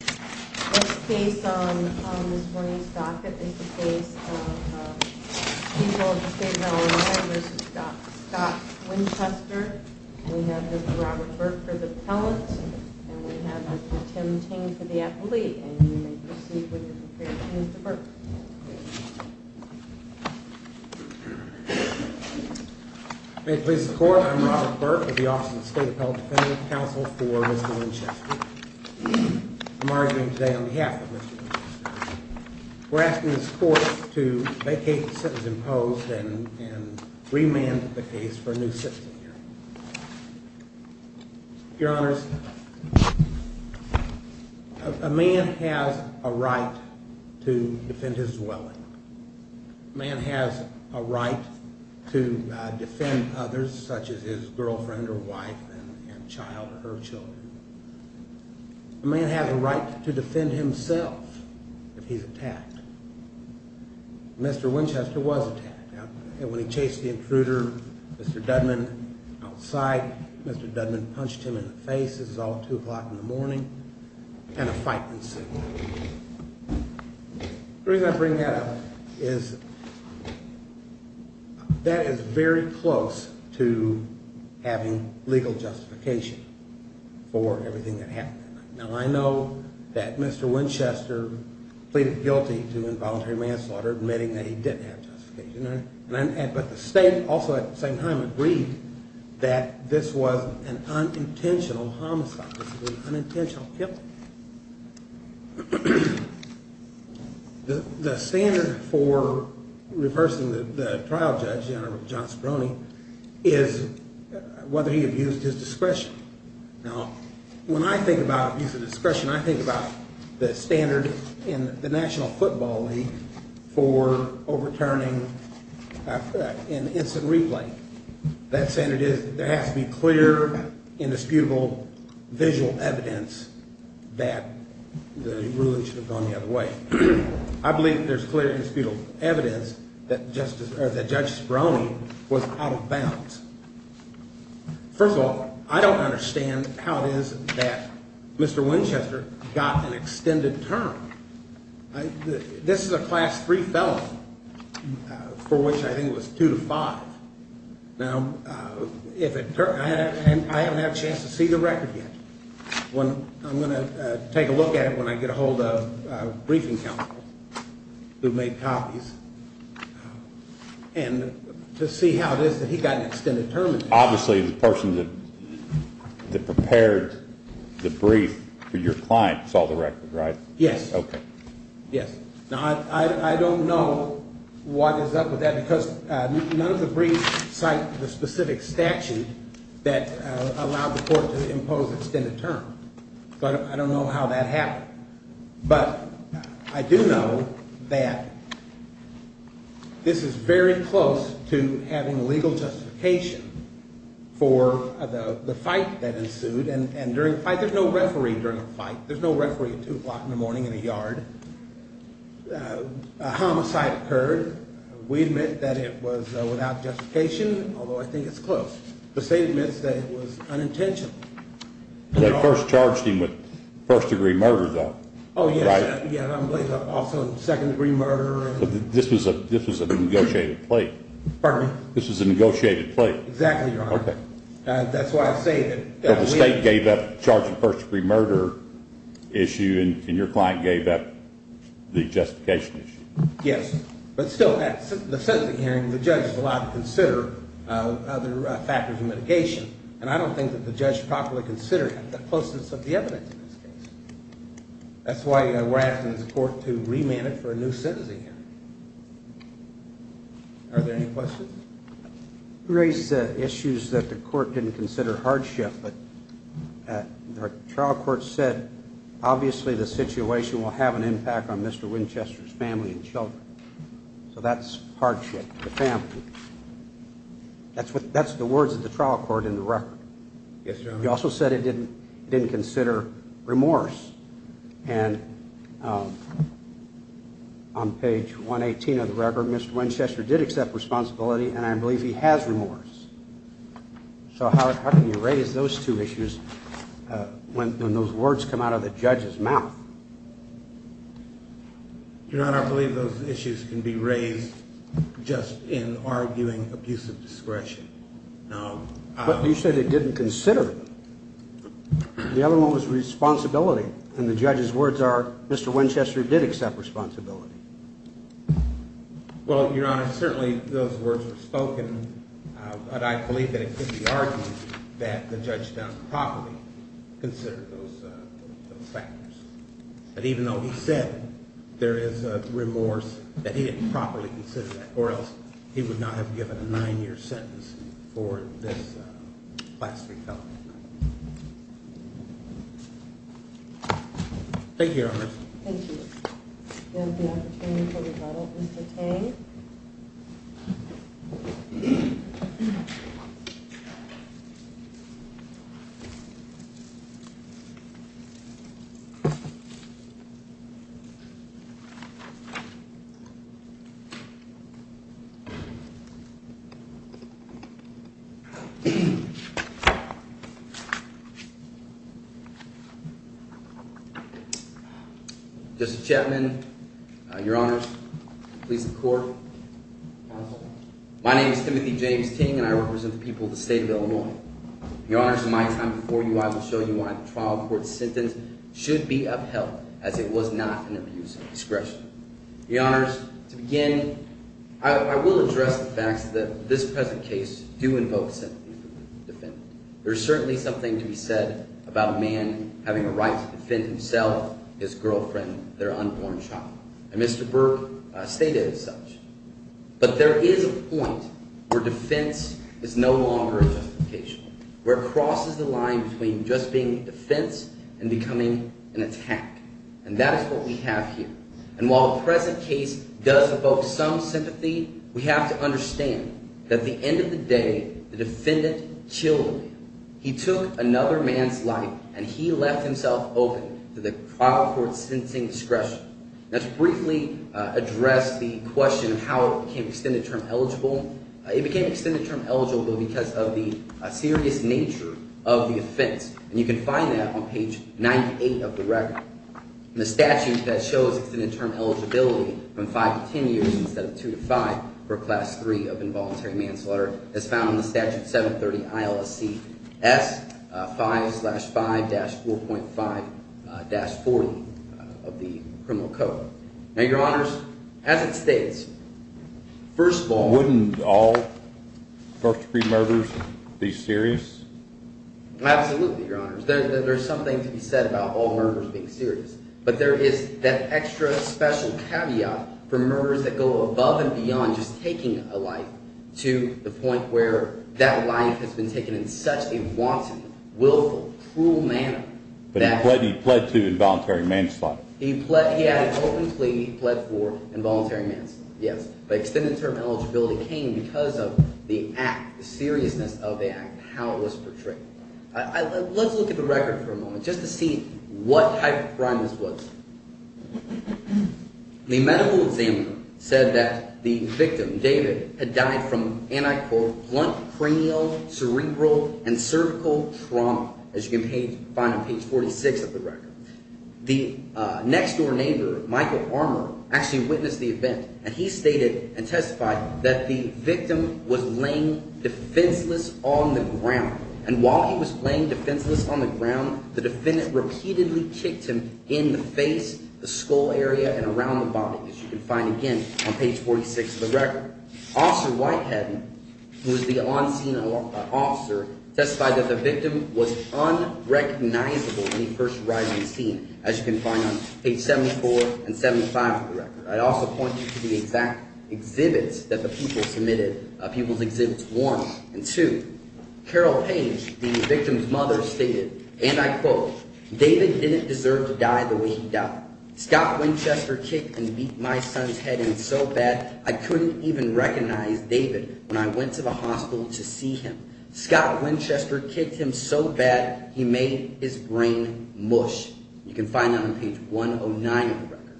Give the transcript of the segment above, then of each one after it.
This case on Ms. Bernice Dockett is the case of Cecil of the State of Illinois v. Scott Winchester We have Mr. Robert Burke for the appellant and we have Mr. Tim Ting for the appellee and you may proceed with your preparations. Mr. Burke May it please the Court, I'm Robert Burke with the Office of the State Appellate Defendant Counsel for Mr. Winchester I'm arguing today on behalf of Mr. Winchester We're asking this Court to vacate the sentence imposed and remand the case for a new sentencing hearing Your Honors A man has a right to defend his dwelling A man has a right to defend others such as his girlfriend or wife and child or her children A man has a right to defend himself if he's attacked Mr. Winchester was attacked When he chased the intruder, Mr. Dudman outside Mr. Dudman punched him in the face, this is all at 2 o'clock in the morning and a fight ensued The reason I bring that up is that is very close to having legal justification for everything that happened Now I know that Mr. Winchester pleaded guilty to involuntary manslaughter admitting that he didn't have justification but the State also at the same time agreed that this was an unintentional homicide this was an unintentional killing The standard for reversing the trial judge is whether he abused his discretion Now when I think about abuse of discretion I think about the standard in the National Football League for overturning an instant replay That standard is there has to be clear indisputable visual evidence that the ruling should have gone the other way I believe there's clear indisputable evidence that Judge Speroni was out of bounds First of all, I don't understand how it is that Mr. Winchester got an extended term This is a class 3 felony for which I think it was 2 to 5 Now I haven't had a chance to see the record yet I'm going to take a look at it when I get a hold of a briefing counsel who made copies and to see how it is that he got an extended term Obviously the person that prepared the brief for your client saw the record, right? Yes Now I don't know what is up with that because none of the briefs cite the specific statute that allowed the court to impose extended term So I don't know how that happened But I do know that this is very close to having legal justification for the fight that ensued and during the fight, there's no referee during the fight There's no referee at 2 o'clock in the morning in the yard A homicide occurred We admit that it was without justification although I think it's close The state admits that it was unintentional They first charged him with first degree murder though Oh yes, also second degree murder This was a negotiated plea Pardon me? This was a negotiated plea Exactly, Your Honor That's why I say that The state gave up the charge of first degree murder issue and your client gave up the justification issue Yes But still, the sentencing hearing, the judge is allowed to consider other factors of mitigation and I don't think that the judge properly considered the closeness of the evidence in this case That's why we're asking the court to remand it for a new sentencing hearing Are there any questions? You raised issues that the court didn't consider hardship but the trial court said obviously the situation will have an impact on Mr. Winchester's family and children So that's hardship to the family That's the words of the trial court in the record You also said it didn't consider remorse and on page 118 of the record Mr. Winchester did accept responsibility and I believe he has remorse So how can you raise those two issues when those words come out of the judge's mouth? Your Honor, I believe those issues can be raised just in arguing abusive discretion But you said it didn't consider The other one was responsibility and the judge's words are Mr. Winchester did accept responsibility Well, Your Honor, certainly those words were spoken but I believe that it could be argued that the judge done properly considered those factors But even though he said there is remorse that he didn't properly consider that or else he would not have given a nine-year sentence for this blasphemy felony Thank you, Your Honor Thank you We have the opportunity for rebuttal Mr. Tang Mr. Chapman, Your Honor, police and court My name is Timothy James Tang and I represent the people of the state of Illinois Your Honor, in my time before you I will show you why the trial court's sentence should be upheld as it was not an abusive discretion Your Honor, to begin I will address the fact that this present case do invoke sympathy for the defendant There is certainly something to be said about a man having a right to defend himself his girlfriend, their unborn child and Mr. Burke stated as such But there is a point where defense is no longer a justification where it crosses the line between just being defense and becoming an attack And that is what we have here And while the present case does invoke some sympathy we have to understand that at the end of the day the defendant killed him He took another man's life and he left himself open to the trial court's sentencing discretion Let's briefly address the question of how it became extended term eligible It became extended term eligible because of the serious nature of the offense And you can find that on page 98 of the record The statute that shows extended term eligibility from 5 to 10 years instead of 2 to 5 for class 3 of involuntary manslaughter is found in the statute 730 ILSC S 5-5-4.5-40 of the criminal code Now Your Honors, as it states First of all Wouldn't all first degree murders be serious? Absolutely, Your Honors There's something to be said about all murders being serious But there is that extra special caveat for murders that go above and beyond just taking a life to the point where that life has been taken in such a wanton, willful, cruel manner But he pled to involuntary manslaughter He had an open plea He pled for involuntary manslaughter Yes, but extended term eligibility came because of the act, the seriousness of the act and how it was portrayed Let's look at the record for a moment just to see what type of crime this was The medical examiner said that the victim, David had died from, and I quote Blunt cranial, cerebral, and cervical trauma as you can find on page 46 of the record The next-door neighbor, Michael Armour actually witnessed the event and he stated and testified that the victim was laying defenseless on the ground and while he was laying defenseless on the ground the defendant repeatedly kicked him in the face, the skull area, and around the body as you can find again on page 46 of the record Officer Whitehead, who is the on-scene officer testified that the victim was unrecognizable when he first arrived on the scene as you can find on page 74 and 75 of the record I'd also point you to the exact exhibits that the people submitted, people's exhibits One, and two, Carol Page, the victim's mother stated, and I quote David didn't deserve to die the way he died Scott Winchester kicked and beat my son's head in so bad I couldn't even recognize David when I went to the hospital to see him Scott Winchester kicked him so bad he made his brain mush You can find that on page 109 of the record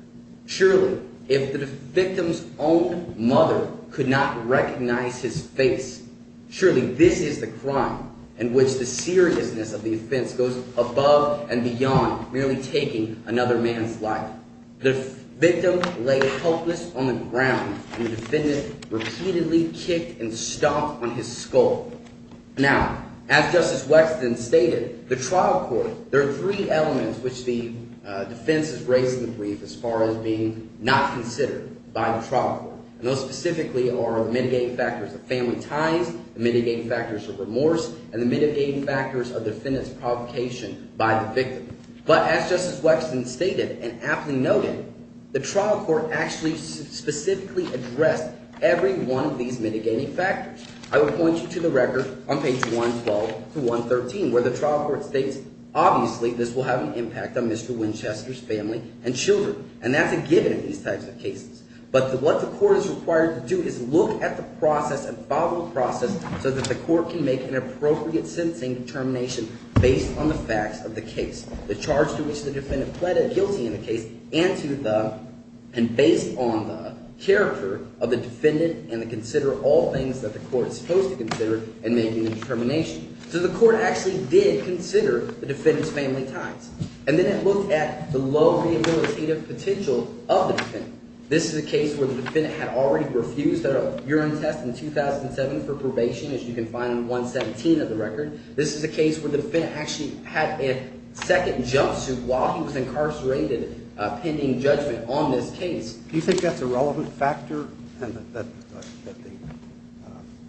Surely, if the victim's own mother could not recognize his face surely this is the crime in which the seriousness of the offense goes above and beyond merely taking another man's life The victim lay helpless on the ground and the defendant repeatedly kicked and stomped on his skull Now, as Justice Wexton stated the trial court, there are three elements which the defense has raised in the brief as far as being not considered by the trial court Those specifically are the mitigating factors of family ties the mitigating factors of remorse and the mitigating factors of the defendant's provocation by the victim But as Justice Wexton stated, and aptly noted the trial court actually specifically addressed every one of these mitigating factors I would point you to the record on page 112-113 where the trial court states obviously this will have an impact on Mr. Winchester's family and children and that's a given in these types of cases but what the court is required to do is look at the process, a follow-up process so that the court can make an appropriate sentencing determination based on the facts of the case the charge to which the defendant pleaded guilty in the case and to the – and based on the character of the defendant and to consider all things that the court is supposed to consider in making the determination So the court actually did consider the defendant's family ties and then it looked at the low rehabilitative potential of the defendant This is a case where the defendant had already refused a urine test in 2007 for probation as you can find in 117 of the record This is a case where the defendant actually had a second jumpsuit while he was incarcerated pending judgment on this case Do you think that's a relevant factor? That the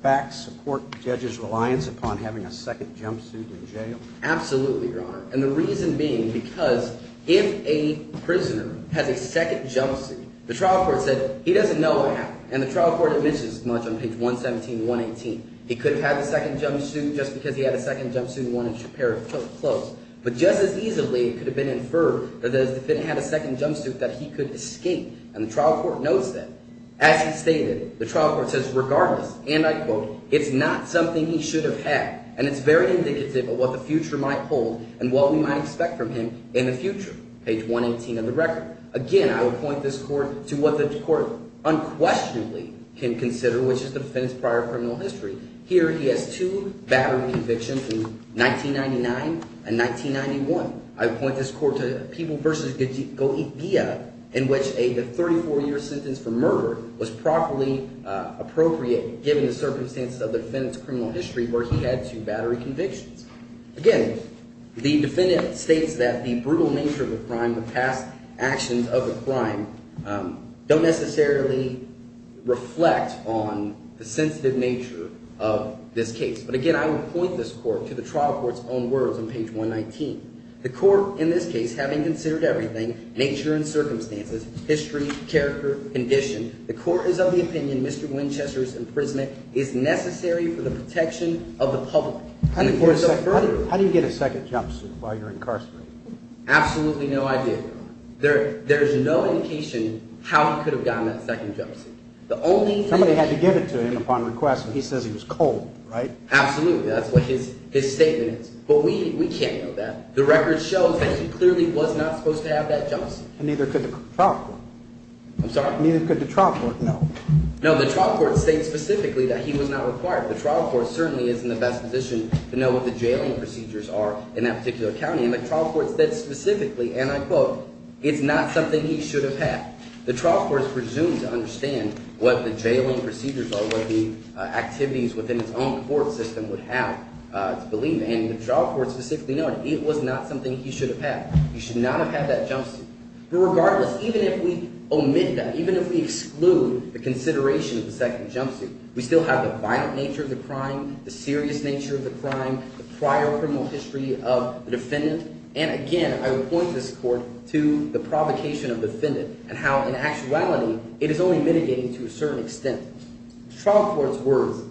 facts support the judge's reliance upon having a second jumpsuit in jail? Absolutely, Your Honor and the reason being because if a prisoner has a second jumpsuit the trial court said he doesn't know what happened and the trial court admits as much on page 117 and 118 He could have had the second jumpsuit just because he had a second jumpsuit and wanted to prepare his clothes but just as easily it could have been inferred that if the defendant had a second jumpsuit that he could escape and the trial court notes that As he stated, the trial court says regardless and I quote it's not something he should have had and it's very indicative of what the future might hold and what we might expect from him in the future page 118 of the record Again, I would point this court to what the court unquestionably can consider which is the defendant's prior criminal history Here he has two battery convictions in 1999 and 1991 I would point this court to People v. Goethe in which a 34-year sentence for murder was properly appropriate given the circumstances of the defendant's criminal history where he had two battery convictions Again, the defendant states that the brutal nature of the crime the past actions of the crime don't necessarily reflect on the sensitive nature of this case but again, I would point this court to the trial court's own words on page 119 The court, in this case, having considered everything nature and circumstances, history, character, condition the court is of the opinion Mr. Winchester's imprisonment is necessary for the protection of the public How do you get a second jumpsuit while you're incarcerated? Absolutely no idea There's no indication how he could have gotten that second jumpsuit Somebody had to give it to him upon request and he says he was cold, right? Absolutely, that's what his statement is But we can't know that The record shows that he clearly was not supposed to have that jumpsuit And neither could the trial court I'm sorry? Neither could the trial court, no No, the trial court states specifically that he was not required The trial court certainly is in the best position to know what the jailing procedures are in that particular county And the trial court said specifically, and I quote It's not something he should have had The trial court is presumed to understand what the jailing procedures are what the activities within its own court system would have It's believed, and the trial court specifically noted It was not something he should have had He should not have had that jumpsuit But regardless, even if we omit that, even if we exclude the consideration of the second jumpsuit We still have the violent nature of the crime, the serious nature of the crime The prior criminal history of the defendant And again, I would point this court to the provocation of the defendant And how in actuality, it is only mitigating to a certain extent The trial court's words,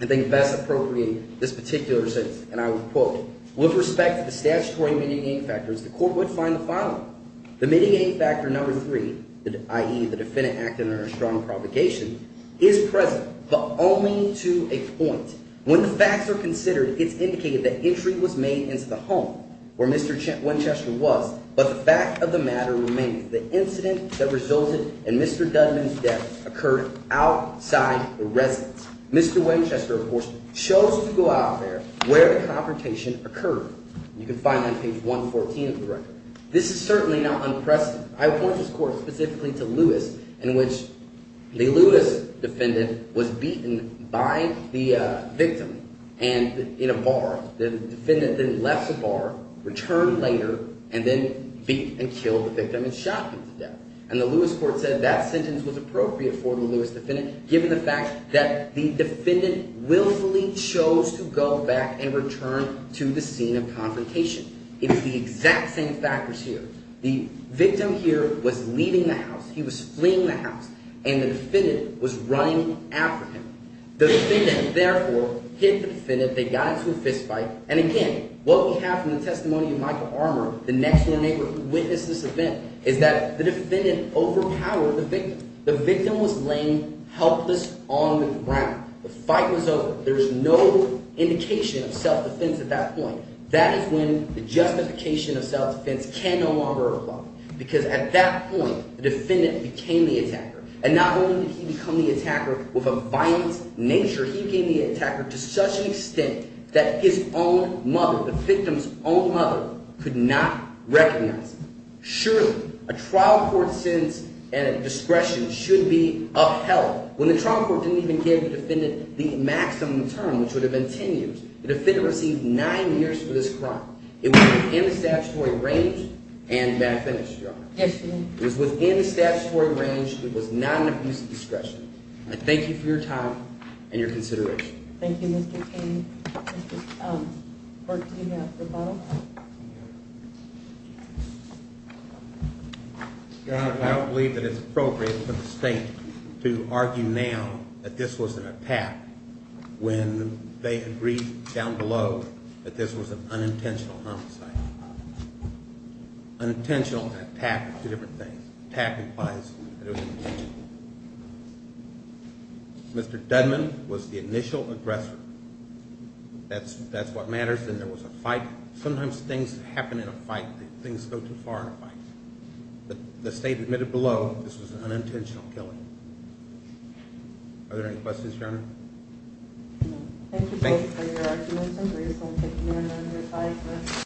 I think best appropriate this particular sentence And I would quote With respect to the statutory mitigating factors, the court would find the following The mitigating factor number three, i.e. the defendant acting under a strong provocation Is present, but only to a point When the facts are considered, it's indicated that entry was made into the home Where Mr. Winchester was But the fact of the matter remains The incident that resulted in Mr. Dudman's death occurred outside the residence Mr. Winchester, of course, chose to go out there where the confrontation occurred You can find that on page 114 of the record This is certainly not unprecedented I would point this court specifically to Lewis In which the Lewis defendant was beaten by the victim in a bar The defendant then left the bar, returned later, and then beat and killed the victim and shot him to death And the Lewis court said that sentence was appropriate for the Lewis defendant Given the fact that the defendant willfully chose to go back and return to the scene of confrontation It is the exact same factors here The victim here was leaving the house He was fleeing the house And the defendant was running after him The defendant, therefore, hit the defendant They got into a fist fight And again, what we have from the testimony of Michael Armour The next-door neighbor who witnessed this event Is that the defendant overpowered the victim The victim was laying helpless on the ground The fight was over There was no indication of self-defense at that point That is when the justification of self-defense can no longer apply Because at that point, the defendant became the attacker And not only did he become the attacker with a violent nature He became the attacker to such an extent That his own mother, the victim's own mother, could not recognize him Surely, a trial court sentence and a discretion should be upheld When the trial court didn't even give the defendant the maximum term Which would have been 10 years The defendant received 9 years for this crime It was within the statutory range and bad finish, Your Honor Yes, Your Honor It was within the statutory range It was not an abuse of discretion I thank you for your time and your consideration Thank you, Mr. King Mr. Burke, do you have a rebuttal? Your Honor, I don't believe that it's appropriate for the state to argue now That this was an attack when they agreed down below That this was an unintentional homicide Unintentional and attack are two different things Attack implies that it was intentional Mr. Dudman was the initial aggressor That's what matters Then there was a fight Sometimes things happen in a fight Things go too far in a fight The state admitted below this was an unintentional killing Are there any questions, Your Honor? No Thank you both for your arguments and reasonable opinion And your time